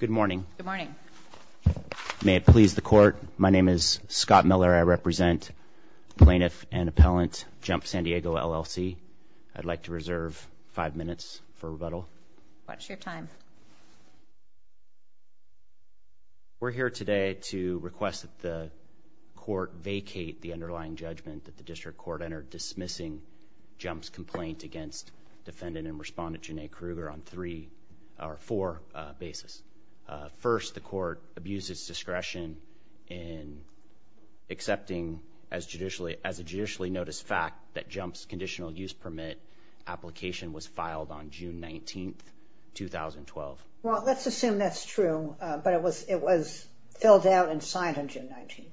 Good morning. Good morning. May it please the Court, my name is Scott Miller, I represent Plaintiff and Appellant Jump San Diego, LLC. I'd like to reserve five minutes for rebuttal. What's your time? We're here today to request that the Court vacate the underlying judgment that the District Court entered dismissing Jump's complaint against Defendant and Respondent Janay Kruger on three or four basis. First the Court abuses discretion in accepting as a judicially noticed fact that Jump's Conditional Use Permit application was filed on June 19th, 2012. Well, let's assume that's true, but it was filled out and signed on June 19th.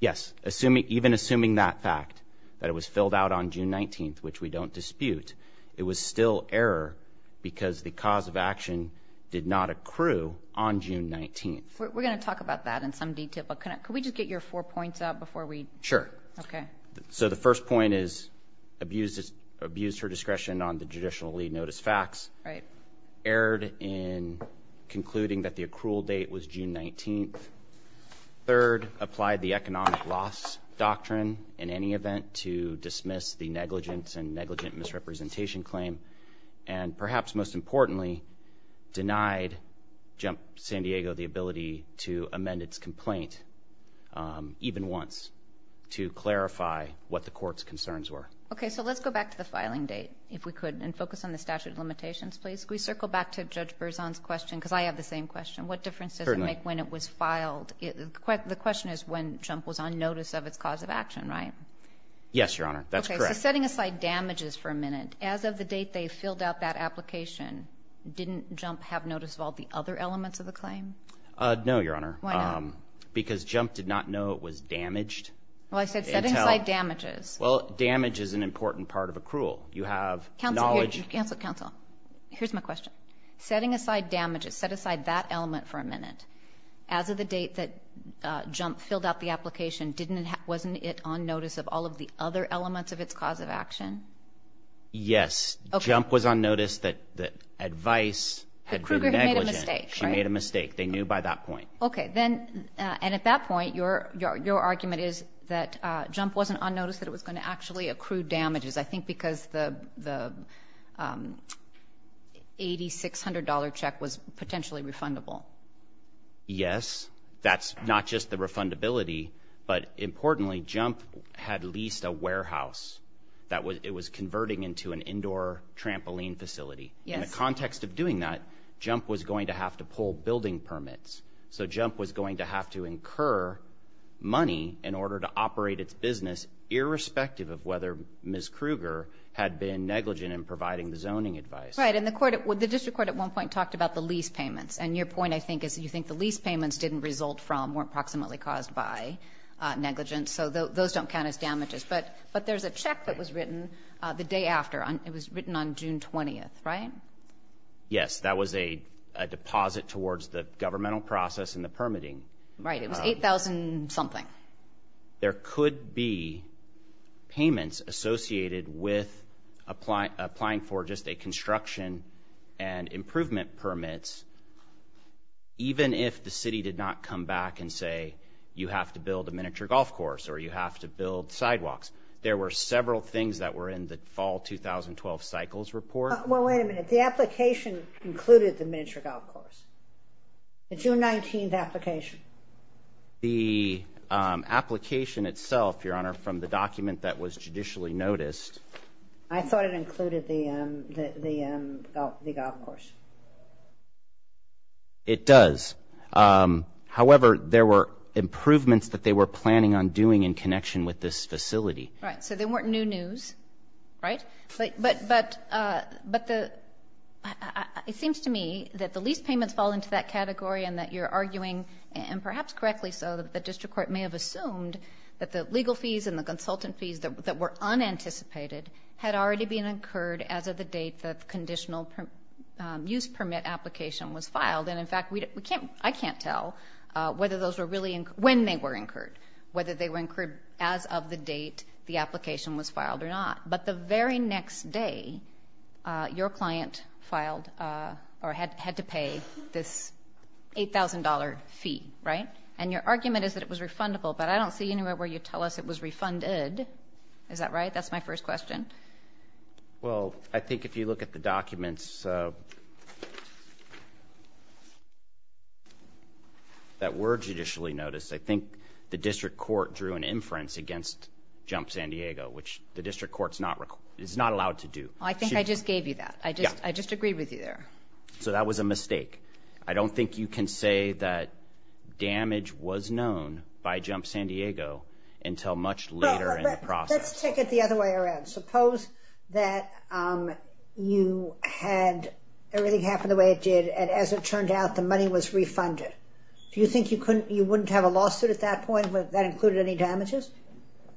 Yes, even assuming that fact, that it was filled out on June 19th, which we don't dispute, it was still error because the cause of action did not accrue on June 19th. We're going to talk about that in some detail, but could we just get your four points out before we? Sure. Okay. So the first point is abused her discretion on the judicially noticed facts, erred in concluding that the accrual date was June 19th. Third, applied the economic loss doctrine in any event to dismiss the negligence and representation claim, and perhaps most importantly, denied Jump San Diego the ability to amend its complaint even once to clarify what the Court's concerns were. Okay. So let's go back to the filing date, if we could, and focus on the statute of limitations, please. Can we circle back to Judge Berzon's question, because I have the same question. What difference does it make when it was filed? The question is when Jump was on notice of its cause of action, right? Yes, Your Honor. That's correct. So setting aside damages for a minute, as of the date they filled out that application, didn't Jump have notice of all the other elements of the claim? No, Your Honor. Why not? Because Jump did not know it was damaged until— Well, I said setting aside damages. Well, damage is an important part of accrual. You have knowledge— Counsel. Counsel. Counsel. Here's my question. Setting aside damages, set aside that element for a minute, as of the date that Jump filled out the application, wasn't it on notice of all of the other elements of its cause of action? Yes. Okay. Jump was on notice that the advice had been negligent. Kruger had made a mistake, right? She made a mistake. They knew by that point. Okay. And at that point, your argument is that Jump wasn't on notice that it was going to actually accrue damages, I think because the $8,600 check was potentially refundable. Yes. That's not just the refundability, but importantly, Jump had leased a warehouse that it was converting into an indoor trampoline facility. Yes. In the context of doing that, Jump was going to have to pull building permits. So Jump was going to have to incur money in order to operate its business, irrespective of whether Ms. Kruger had been negligent in providing the zoning advice. Right. And the court, the district court at one point talked about the lease payments. And your point, I think, is you think the lease payments didn't result from, weren't proximately caused by negligence. So those don't count as damages. But there's a check that was written the day after. It was written on June 20th, right? Yes. That was a deposit towards the governmental process and the permitting. Right. It was $8,000 something. There could be payments associated with applying for just a construction and improvement permits, even if the city did not come back and say, you have to build a miniature golf course or you have to build sidewalks. There were several things that were in the fall 2012 cycles report. Well, wait a minute. The application included the miniature golf course, the June 19th application. The application itself, Your Honor, from the document that was judicially noticed. I thought it included the golf course. It does. However, there were improvements that they were planning on doing in connection with this facility. Right. So there weren't new news. Right? But it seems to me that the lease payments fall into that category and that you're arguing, and perhaps correctly so, that the district court may have assumed that the legal fees and the consultant fees that were unanticipated had already been incurred as of the date that the conditional use permit application was filed. And, in fact, I can't tell when they were incurred, whether they were incurred as of the date the application was filed or not. But the very next day, your client had to pay this $8,000 fee, right? And your argument is that it was refundable. But I don't see anywhere where you tell us it was refunded. Is that right? That's my first question. Well, I think if you look at the documents that were judicially noticed, I think the district court drew an inference against Jump San Diego, which the district court is not allowed to do. I think I just gave you that. I just agreed with you there. So that was a mistake. I don't think you can say that damage was known by Jump San Diego until much later in the process. Let's take it the other way around. Suppose that you had everything happen the way it did, and as it turned out, the money was refunded. Do you think you wouldn't have a lawsuit at that point if that included any damages?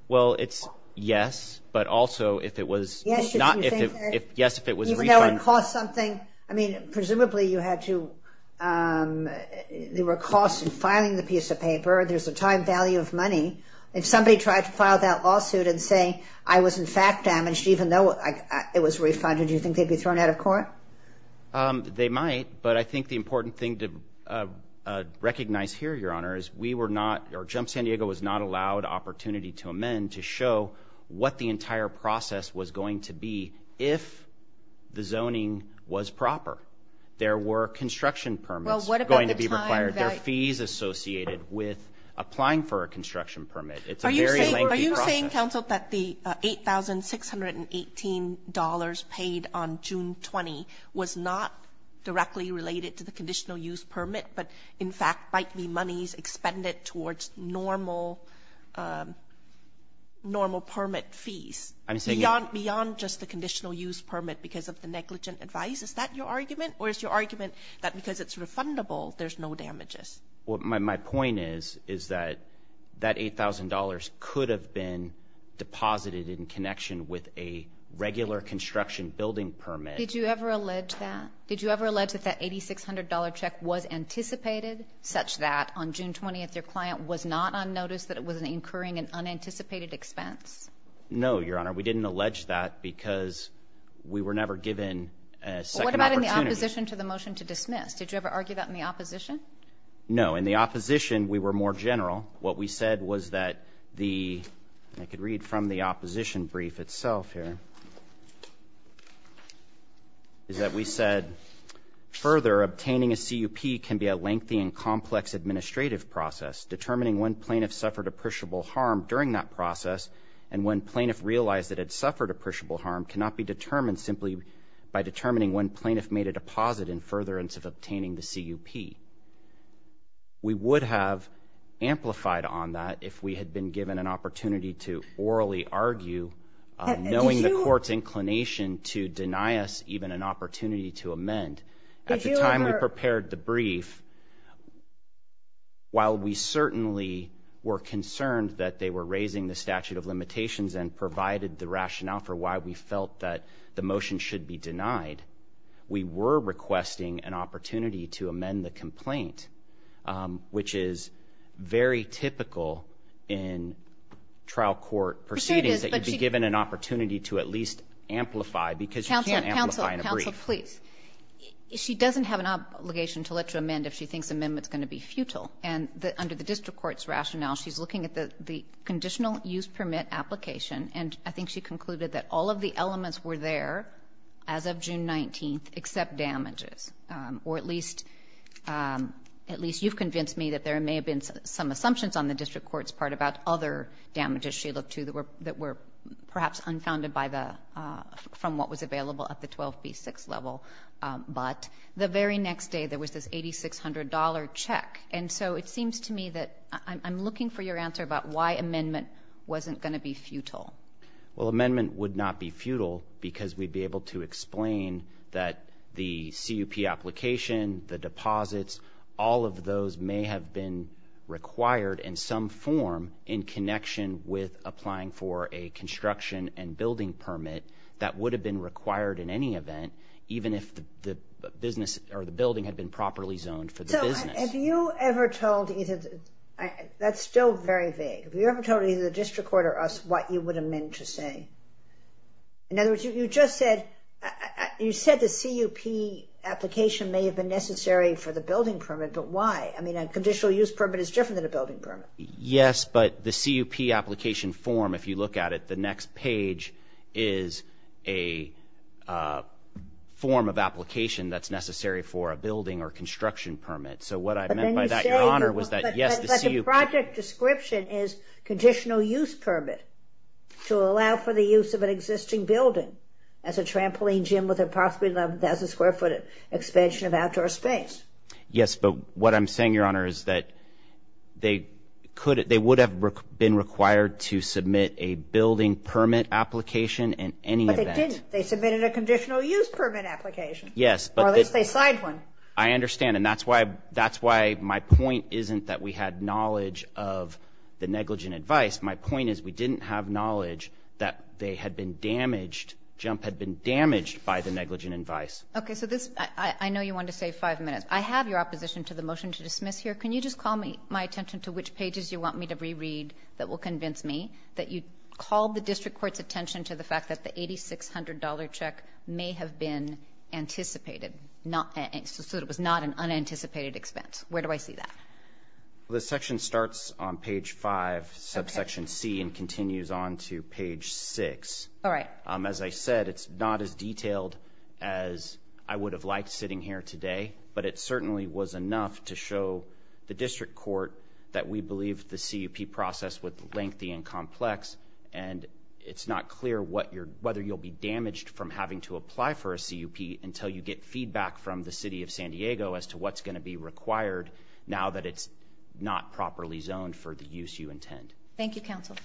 Well, it's yes, but also if it was not – yes, if it was refunded. Even though it cost something? I mean, presumably you had to – there were costs in filing the piece of paper. There's a time value of money. If somebody tried to file that lawsuit and say, I was in fact damaged even though it was refunded, do you think they'd be thrown out of court? They might, but I think the important thing to recognize here, Your Honor, is we were not – or Jump San Diego was not allowed opportunity to amend to show what the entire process was going to be if the zoning was proper. There were construction permits going to be required. Well, what about the time value? There are fees associated with applying for a construction permit. It's a very lengthy process. Are you saying, counsel, that the $8,618 paid on June 20 was not directly related to the conditional use permit but, in fact, might be monies expended towards normal permit fees beyond just the conditional use permit because of the negligent advice? Is that your argument? Or is your argument that because it's refundable, there's no damages? My point is that that $8,000 could have been deposited in connection with a regular construction building permit. Did you ever allege that? Did you ever allege that that $8,600 check was anticipated such that on June 20, your client was not on notice that it was incurring an unanticipated expense? No, Your Honor. We didn't allege that because we were never given a second opportunity. What about in the opposition to the motion to dismiss? Did you ever argue that in the opposition? No. In the opposition, we were more general. What we said was that the ñ and I could read from the opposition brief itself here ñ is that we said, ìFurther, obtaining a CUP can be a lengthy and complex administrative process. Determining when plaintiff suffered appreciable harm during that process and when plaintiff realized it had suffered appreciable harm cannot be determined simply by determining when plaintiff made a deposit in furtherance of obtaining the CUP.î We would have amplified on that if we had been given an opportunity to orally argue, knowing the court's inclination to deny us even an opportunity to amend. At the time we prepared the brief, while we certainly were concerned that they were raising the statute of limitations and provided the rationale for why we felt that the motion should be denied, we were requesting an opportunity to amend the complaint, which is very typical in trial court proceedings that you'd be given an opportunity to at least amplify because you can't amplify in a brief. Counsel, please. She doesn't have an obligation to let you amend if she thinks amendment's going to be futile. And under the district court's rationale, she's looking at the conditional use permit application, and I think she concluded that all of the elements were there as of June 19th, except damages, or at least you've convinced me that there may have been some assumptions on the district court's part about other damages she looked to that were perhaps unfounded by the ñ from what was available at the 12B6 level. But the very next day there was this $8,600 check. And so it seems to me that I'm looking for your answer about why amendment wasn't going to be futile. Well, amendment would not be futile because we'd be able to explain that the CUP application, the deposits, all of those may have been required in some form in connection with applying for a construction and building permit that would have been required in any event, even if the business or the building had been properly zoned for the business. Have you ever told either ñ that's still very vague. Have you ever told either the district court or us what you would amend to say? In other words, you just said the CUP application may have been necessary for the building permit, but why? I mean, a conditional use permit is different than a building permit. Yes, but the CUP application form, if you look at it, the next page is a form of application that's necessary for a building or construction permit. So what I meant by that, Your Honor, was that, yes, the CUP ñ But the project description is conditional use permit to allow for the use of an existing building as a trampoline gym with a possibly 11,000-square-foot expansion of outdoor space. Yes, but what I'm saying, Your Honor, is that they could ñ they would have been required to submit a building permit application in any event. But they didn't. They submitted a conditional use permit application. Yes, but ñ Or at least they signed one. I understand, and that's why my point isn't that we had knowledge of the negligent advice. My point is we didn't have knowledge that they had been damaged, JMP had been damaged by the negligent advice. Okay, so this ñ I know you wanted to save five minutes. I have your opposition to the motion to dismiss here. Can you just call my attention to which pages you want me to reread that will convince me that you called the district court's attention to the fact that the $8,600 check may have been anticipated, so it was not an unanticipated expense. Where do I see that? The section starts on page 5, subsection C, and continues on to page 6. All right. As I said, it's not as detailed as I would have liked sitting here today, but it certainly was enough to show the district court that we believe the CUP process was lengthy and complex, and it's not clear whether you'll be damaged from having to apply for a CUP until you get feedback from the city of San Diego as to what's going to be required now that it's not properly zoned for the use you intend. Thank you, counsel.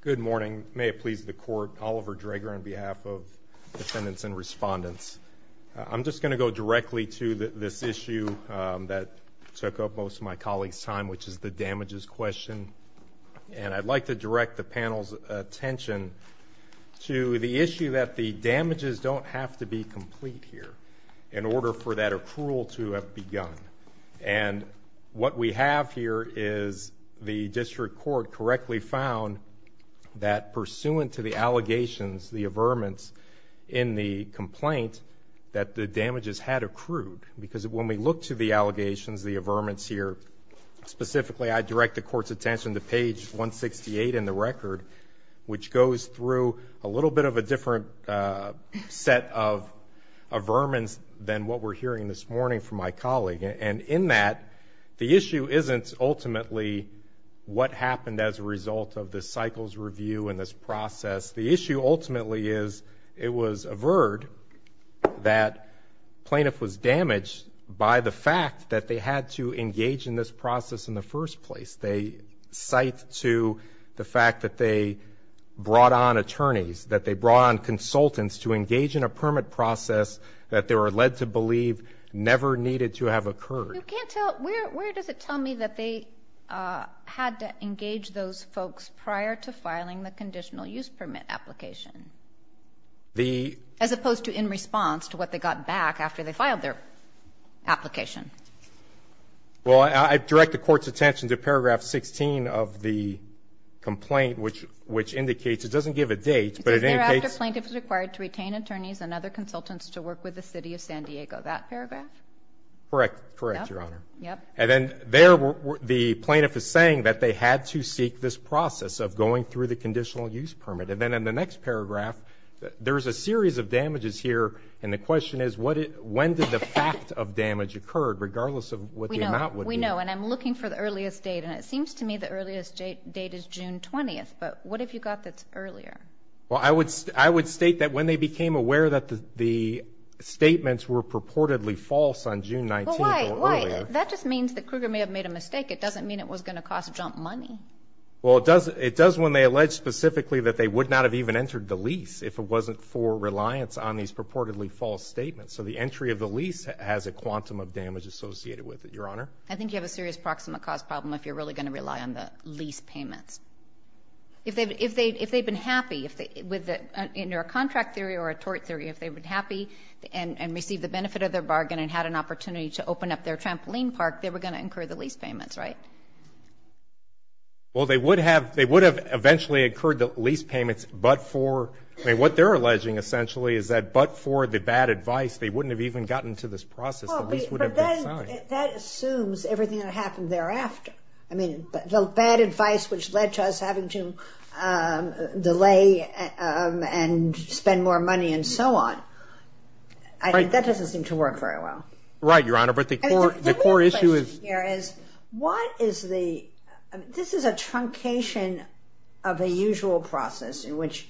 Good morning. May it please the court, Oliver Draeger on behalf of the defendants and respondents. I'm just going to go directly to this issue that took up most of my colleagues' time, which is the damages question, and I'd like to direct the panel's attention to the issue that the damages don't have to be complete here in order for that accrual to have begun. And what we have here is the district court correctly found that, pursuant to the allegations, the averments in the complaint, that the damages had accrued. Because when we look to the allegations, the averments here, specifically I direct the court's attention to page 168 in the record, which goes through a little bit of a different set of averments than what we're hearing this morning from my colleague. And in that, the issue isn't ultimately what happened as a result of the cycles review and this process. The issue ultimately is it was averred that plaintiff was damaged by the fact that they had to engage in this process in the first place. They cite to the fact that they brought on attorneys, that they brought on consultants to engage in a permit process that they were led to believe never needed to have occurred. You can't tell me, where does it tell me that they had to engage those folks prior to filing the conditional use permit application? As opposed to in response to what they got back after they filed their application? Well, I direct the court's attention to paragraph 16 of the complaint, which indicates, it doesn't give a date, but it indicates It says, thereafter, plaintiff is required to retain attorneys and other consultants to work with the City of San Diego. That paragraph? Correct. Correct, Your Honor. Yep. And then there, the plaintiff is saying that they had to seek this process of going through the conditional use permit. And then in the next paragraph, there is a series of damages here, and the question is, when did the fact of damage occur, regardless of what the amount would be? We know, and I'm looking for the earliest date, and it seems to me the earliest date is June 20th. But what have you got that's earlier? Well, I would state that when they became aware that the statements were purportedly false on June 19th or earlier. Well, why? That just means that Kruger may have made a mistake. It doesn't mean it was going to cost jump money. Well, it does when they allege specifically that they would not have even entered the lease if it wasn't for reliance on these purportedly false statements. So the entry of the lease has a quantum of damage associated with it. Your Honor? I think you have a serious proximate cause problem if you're really going to rely on the lease payments. If they've been happy with the contract theory or a tort theory, if they've been happy and received the benefit of their bargain and had an opportunity to open up their trampoline park, they were going to incur the lease payments, right? Well, they would have. They would have eventually incurred the lease payments, but for, I mean, what they're alleging essentially is that but for the bad advice, they wouldn't have even gotten to this process. The lease would have been signed. But that assumes everything that happened thereafter. I mean, the bad advice which led to us having to delay and spend more money and so on, that doesn't seem to work very well. Right, Your Honor, but the core issue is. What is the, this is a truncation of a usual process in which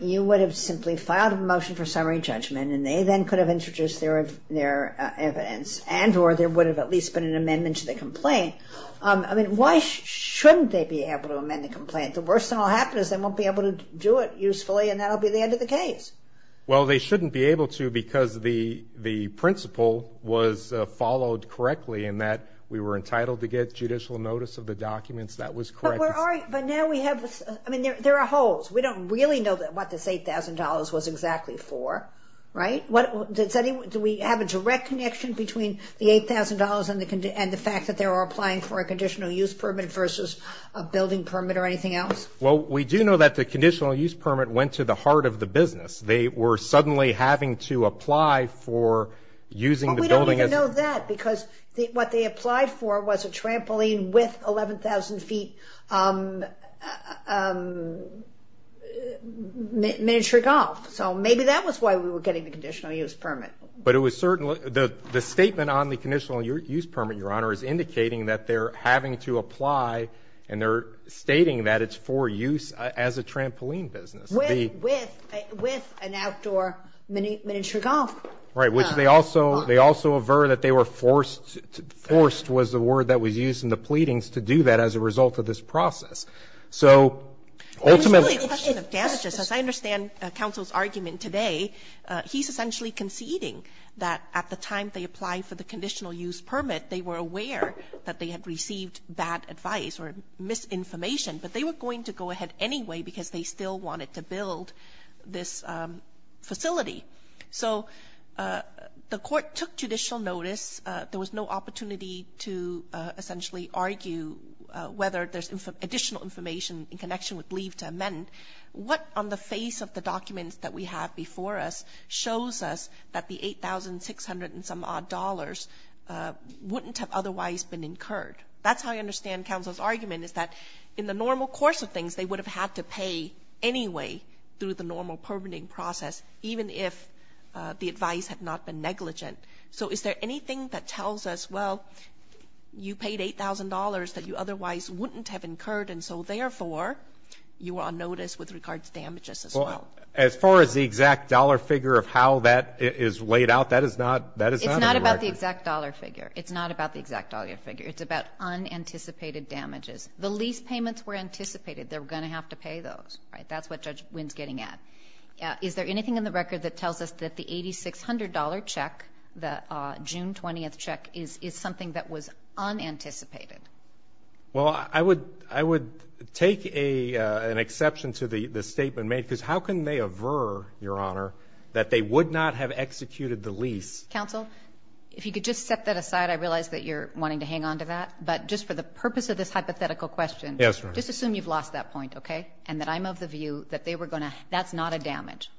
you would have simply filed a motion for summary judgment and they then could have introduced their evidence and or there would have at least been an amendment to the complaint. I mean, why shouldn't they be able to amend the complaint? The worst that will happen is they won't be able to do it usefully and that will be the end of the case. Well, they shouldn't be able to because the principle was followed correctly in that we were entitled to get judicial notice of the documents. That was correct. But now we have, I mean, there are holes. We don't really know what this $8,000 was exactly for, right? Do we have a direct connection between the $8,000 and the fact that they were applying for a conditional use permit versus a building permit or anything else? Well, we do know that the conditional use permit went to the heart of the business. They were suddenly having to apply for using the building. But we don't even know that because what they applied for was a trampoline with 11,000 feet miniature golf. So maybe that was why we were getting the conditional use permit. But it was certainly the statement on the conditional use permit, Your Honor, is indicating that they're having to apply and they're stating that it's for use as a trampoline business. With an outdoor miniature golf. Right. Which they also avert that they were forced, forced was the word that was used in the pleadings, to do that as a result of this process. So ultimately. It's really a question of damages. As I understand counsel's argument today, he's essentially conceding that at the time they applied for the conditional use permit, they were aware that they had received bad advice or misinformation. But they were going to go ahead anyway, because they still wanted to build this facility. So the court took judicial notice. There was no opportunity to essentially argue whether there's additional information in connection with leave to amend. What on the face of the documents that we have before us shows us that the $8,600 and some odd dollars wouldn't have otherwise been incurred. That's how I understand counsel's argument is that in the normal course of things, they would have had to pay anyway through the normal permitting process, even if the advice had not been negligent. So is there anything that tells us, well, you paid $8,000 that you otherwise wouldn't have incurred. And so therefore you are on notice with regards to damages as well. As far as the exact dollar figure of how that is laid out, that is not, that is not about the exact dollar figure. It's not about the exact dollar figure. It's about unanticipated damages. The lease payments were anticipated. They're going to have to pay those, right? That's what Judge Wynn's getting at. Is there anything in the record that tells us that the $8,600 check, the June 20th check, is something that was unanticipated? Well, I would take an exception to the statement made, because how can they aver, Your Honor, that they would not have executed the lease? Counsel, if you could just set that aside. I realize that you're wanting to hang on to that. But just for the purpose of this hypothetical question, just assume you've lost that point, okay? And that I'm of the view that they were going to, that's not a damage.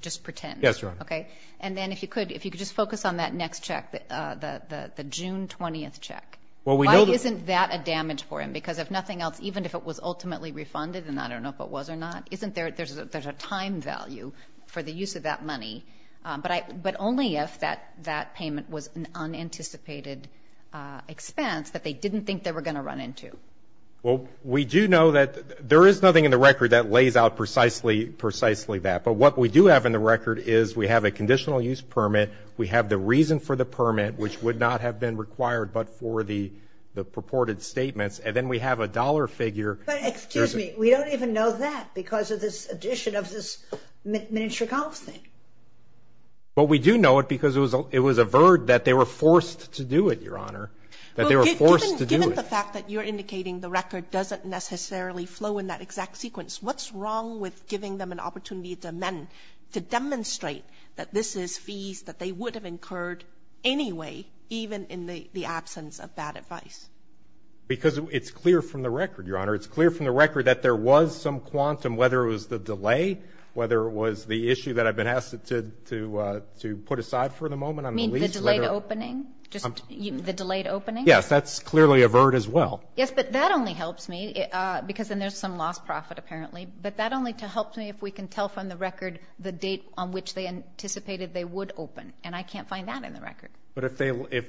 Just pretend. Yes, Your Honor. Okay? And then if you could, if you could just focus on that next check, the June 20th check. Why isn't that a damage for him? Because if nothing else, even if it was ultimately refunded, and I don't know if it was or not, isn't there, there's a time value for the use of that money. But only if that payment was an unanticipated expense that they didn't think they were going to run into. Well, we do know that there is nothing in the record that lays out precisely that. But what we do have in the record is we have a conditional use permit, we have the reason for the permit, which would not have been required but for the purported statements, and then we have a dollar figure. But excuse me. We don't even know that because of this addition of this miniature golf thing. But we do know it because it was averred that they were forced to do it, Your Honor, that they were forced to do it. Well, given the fact that you're indicating the record doesn't necessarily flow in that exact sequence, what's wrong with giving them an opportunity to amend, to demonstrate that this is fees that they would have incurred anyway, even in the absence of bad advice? Because it's clear from the record, Your Honor. It's clear from the record that there was some quantum, whether it was the delay, whether it was the issue that I've been asked to put aside for the moment on the lease. You mean the delayed opening? Just the delayed opening? Yes. That's clearly averred as well. Yes, but that only helps me because then there's some lost profit apparently. But that only helps me if we can tell from the record the date on which they anticipated they would open, and I can't find that in the record. But if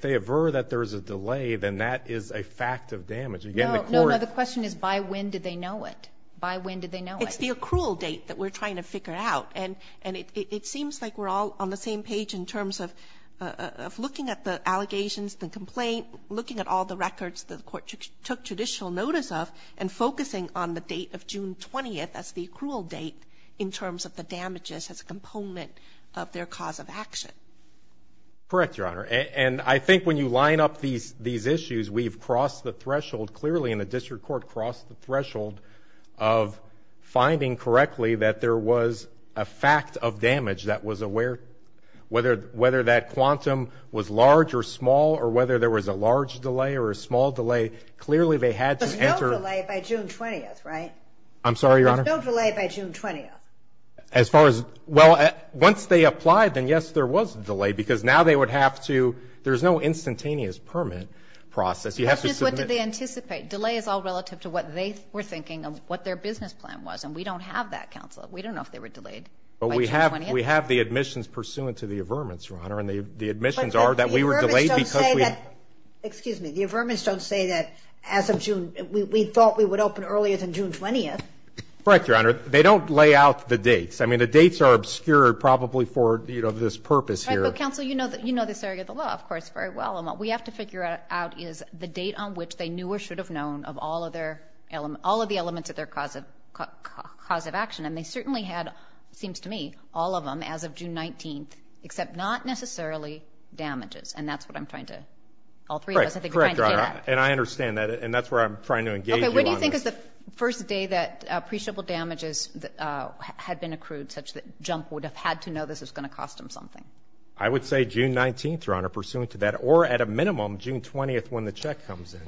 they aver that there's a delay, then that is a fact of damage. No, no. The question is by when did they know it? By when did they know it? It's the accrual date that we're trying to figure out. And it seems like we're all on the same page in terms of looking at the allegations, the complaint, looking at all the records that the Court took judicial notice of, and focusing on the date of June 20th as the accrual date in terms of the damages as a component of their cause of action. Correct, Your Honor. And I think when you line up these issues, we've crossed the threshold clearly, and the District Court crossed the threshold of finding correctly that there was a fact of damage that was aware, whether that quantum was large or small, or whether there was a large delay or a small delay, clearly they had to enter. But no delay by June 20th, right? I'm sorry, Your Honor? But no delay by June 20th? As far as, well, once they applied, then yes, there was a delay, because now they would have to, there's no instantaneous permit process. Justice, what did they anticipate? Delay is all relative to what they were thinking of what their business plan was, and we don't have that, Counsel. We don't know if they were delayed by June 20th. But we have the admissions pursuant to the averments, Your Honor, and the admissions are that we were delayed because we had to. Excuse me. The averments don't say that as of June, we thought we would open earlier than June 20th. Correct, Your Honor. They don't lay out the dates. I mean, the dates are obscured probably for, you know, this purpose here. Right. But, Counsel, you know this area of the law, of course, very well. What we have to figure out is the date on which they knew or should have known of all of the elements of their cause of action. And they certainly had, it seems to me, all of them as of June 19th, except not necessarily damages, and that's what I'm trying to, all three of us, I think are trying to say that. Correct, Your Honor, and I understand that, and that's where I'm trying to engage you on this. Okay. When do you think is the first day that appreciable damages had been accrued such that Jump would have had to know this was going to cost them something? I would say June 19th, Your Honor, pursuant to that, or at a minimum June 20th when the check comes in.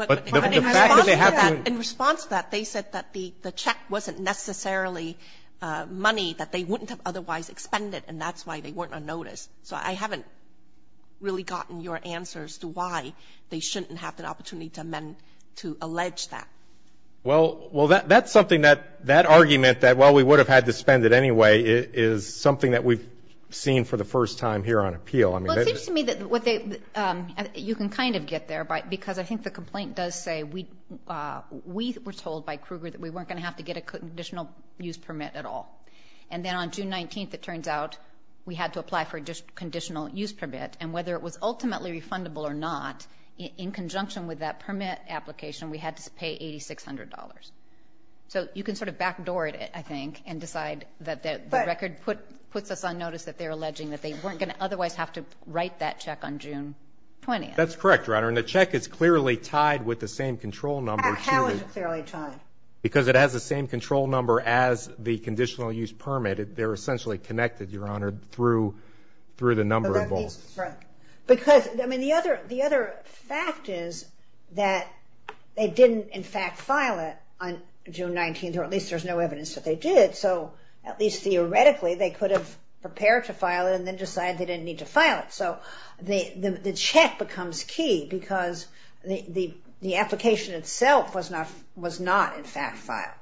Okay. But in response to that, in response to that, they said that the check wasn't necessarily money that they wouldn't have otherwise expended, and that's why they weren't on notice. So I haven't really gotten your answer as to why they shouldn't have the opportunity to amend to allege that. Well, that's something that, that argument that, well, we would have had to spend it anyway is something that we've seen for the first time here on appeal. Well, it seems to me that you can kind of get there, because I think the complaint does say we were told by Kruger that we weren't going to have to get a conditional use permit at all. And then on June 19th, it turns out we had to apply for a conditional use permit, and whether it was ultimately refundable or not, in conjunction with that permit application, we had to pay $8,600. So you can sort of backdoor it, I think, and decide that the record puts us on notice that they're alleging that they weren't going to otherwise have to write that check on June 20th. That's correct, Your Honor. And the check is clearly tied with the same control number. How is it clearly tied? Because it has the same control number as the conditional use permit. They're essentially connected, Your Honor, through the number of volts. Because, I mean, the other fact is that they didn't, in fact, file it on June 19th, or at least there's no evidence that they did. So at least theoretically, they could have prepared to file it and then decided they didn't need to file it. So the check becomes key because the application itself was not, in fact, filed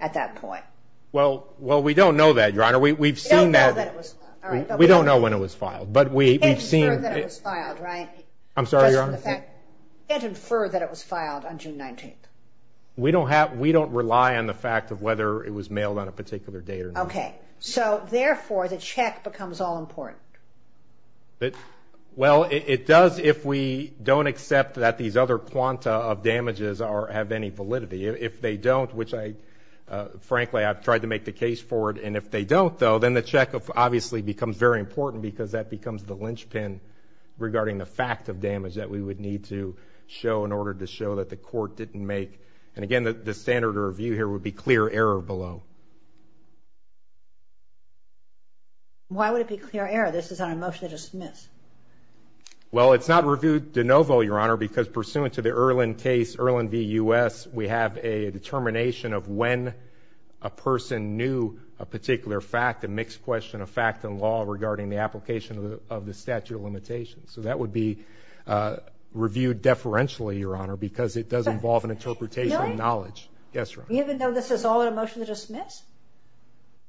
at that point. Well, we don't know that, Your Honor. We've seen that. We don't know when it was filed. You can't infer that it was filed, right? I'm sorry, Your Honor? You can't infer that it was filed on June 19th. We don't rely on the fact of whether it was mailed on a particular date or not. Okay. So, therefore, the check becomes all-important. Well, it does if we don't accept that these other quanta of damages have any validity. If they don't, which, frankly, I've tried to make the case for it, and if they don't, though, then the check obviously becomes very important because that becomes the linchpin regarding the fact of damage that we would need to show in order to show that the court didn't make. And, again, the standard review here would be clear error below. Why would it be clear error? This is on a motion to dismiss. Well, it's not reviewed de novo, Your Honor, because pursuant to the Erlen case, Erlen v. U.S., we have a determination of when a person knew a particular fact, a mixed question of fact and law regarding the application of the statute of limitations. So that would be reviewed deferentially, Your Honor, because it does involve an interpretation of knowledge. Really? Yes, Your Honor. Even though this is all on a motion to dismiss?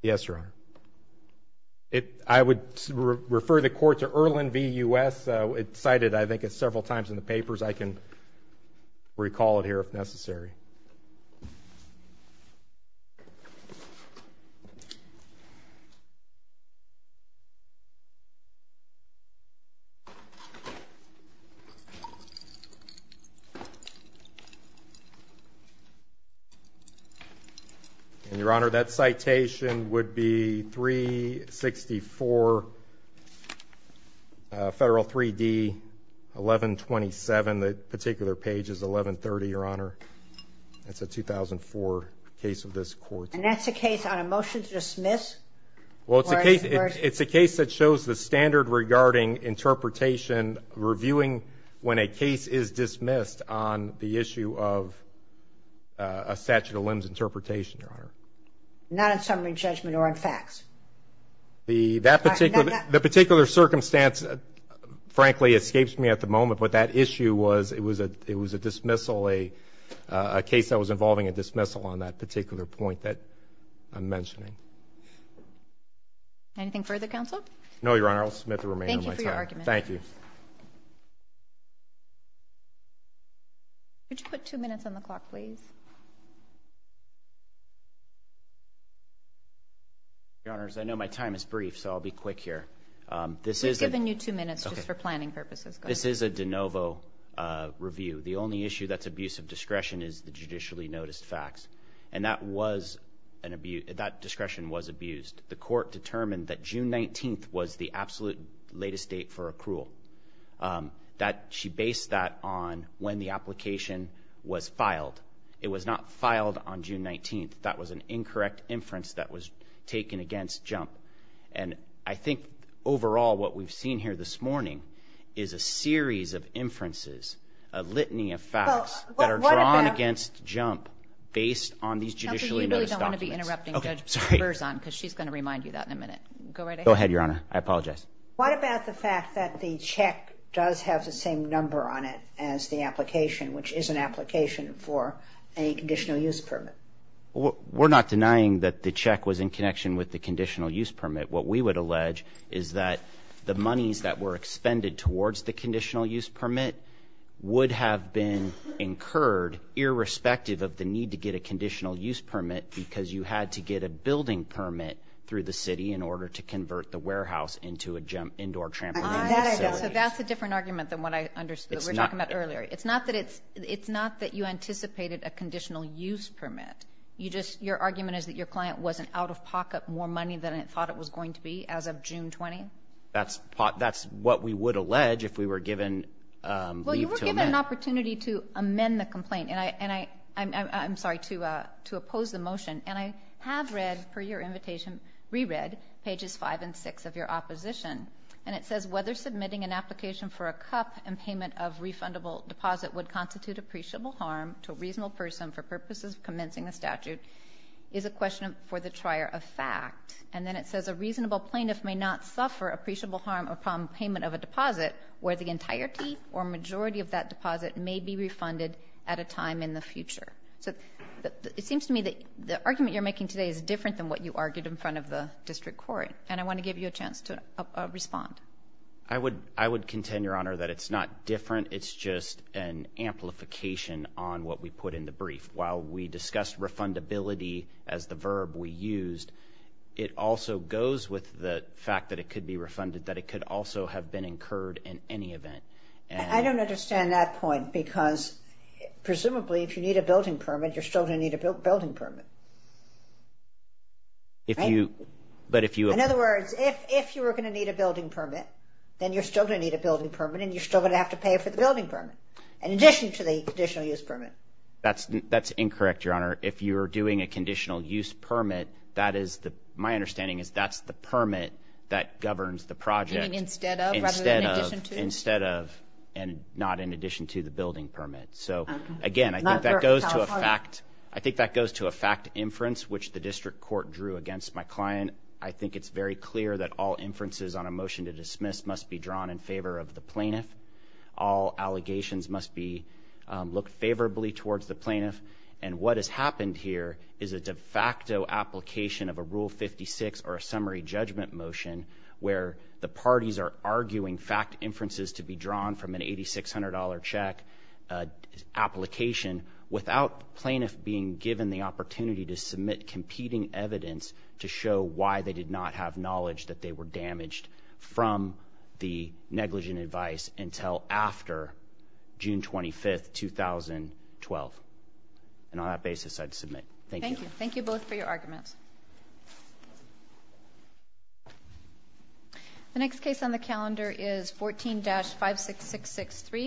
Yes, Your Honor. I would refer the court to Erlen v. U.S. It's cited, I think, several times in the papers. I can recall it here if necessary. And, Your Honor, that citation would be 364 Federal 3D 1127. That particular page is 1130, Your Honor. That's a 2004 case of this court. And that's a case on a motion to dismiss? Well, it's a case that shows the standard regarding interpretation, reviewing when a case is dismissed on the issue of a statute of limits interpretation, Your Honor. Not on summary judgment or on facts? The particular circumstance, frankly, escapes me at the moment, but that issue was it was a dismissal, a case that was involving a dismissal on that particular point that I'm mentioning. Anything further, counsel? No, Your Honor. I'll submit the remainder of my time. Thank you for your argument. Thank you. Could you put two minutes on the clock, please? Your Honors, I know my time is brief, so I'll be quick here. We've given you two minutes just for planning purposes. This is a de novo review. The only issue that's abuse of discretion is the judicially noticed facts, and that discretion was abused. The court determined that June 19th was the absolute latest date for accrual. She based that on when the application was filed. It was not filed on June 19th. That was an incorrect inference that was taken against Jump. I think overall what we've seen here this morning is a series of inferences, a litany of facts that are drawn against Jump based on these judicially noticed documents. You really don't want to be interrupting Judge Berzon because she's going to remind you of that in a minute. Go right ahead. Go ahead, Your Honor. I apologize. What about the fact that the check does have the same number on it as the application, which is an application for a conditional use permit? We're not denying that the check was in connection with the conditional use permit. What we would allege is that the monies that were expended towards the conditional use permit would have been incurred, irrespective of the need to get a conditional use permit, because you had to get a building permit through the city in order to convert the warehouse into an indoor trampoline facility. So that's a different argument than what I understood. We were talking about earlier. It's not that you anticipated a conditional use permit. Your argument is that your client wasn't out of pocket more money than it thought it was going to be as of June 20th? That's what we would allege if we were given leave to amend. Well, you were given an opportunity to amend the complaint. I'm sorry, to oppose the motion. And I have read, per your invitation, re-read pages 5 and 6 of your opposition. And it says, whether submitting an application for a cup and payment of refundable deposit would constitute appreciable harm to a reasonable person for purposes of commencing a statute is a question for the trier of fact. And then it says, a reasonable plaintiff may not suffer appreciable harm upon payment of a deposit where the entirety or majority of that deposit may be refunded at a time in the future. So it seems to me that the argument you're making today is different than what you argued in front of the district court. And I want to give you a chance to respond. I would contend, Your Honor, that it's not different. It's just an amplification on what we put in the brief. While we discussed refundability as the verb we used, it also goes with the fact that it could be refunded, that it could also have been incurred in any event. I don't understand that point because presumably if you need a building permit, you're still going to need a building permit. In other words, if you were going to need a building permit, then you're still going to need a building permit, and you're still going to have to pay for the building permit, in addition to the conditional use permit. That's incorrect, Your Honor. If you're doing a conditional use permit, my understanding is that's the permit that governs the project instead of, and not in addition to the building permit. So, again, I think that goes to a fact. The fact inference, which the district court drew against my client, I think it's very clear that all inferences on a motion to dismiss must be drawn in favor of the plaintiff. All allegations must be looked favorably towards the plaintiff. And what has happened here is a de facto application of a Rule 56 or a summary judgment motion where the parties are arguing fact inferences to be drawn from an $8,600 check application without plaintiff being given the opportunity to submit competing evidence to show why they did not have knowledge that they were damaged from the negligent advice until after June 25, 2012. And on that basis, I'd submit. Thank you. Thank you both for your arguments. The next case on the calendar is 14-56663.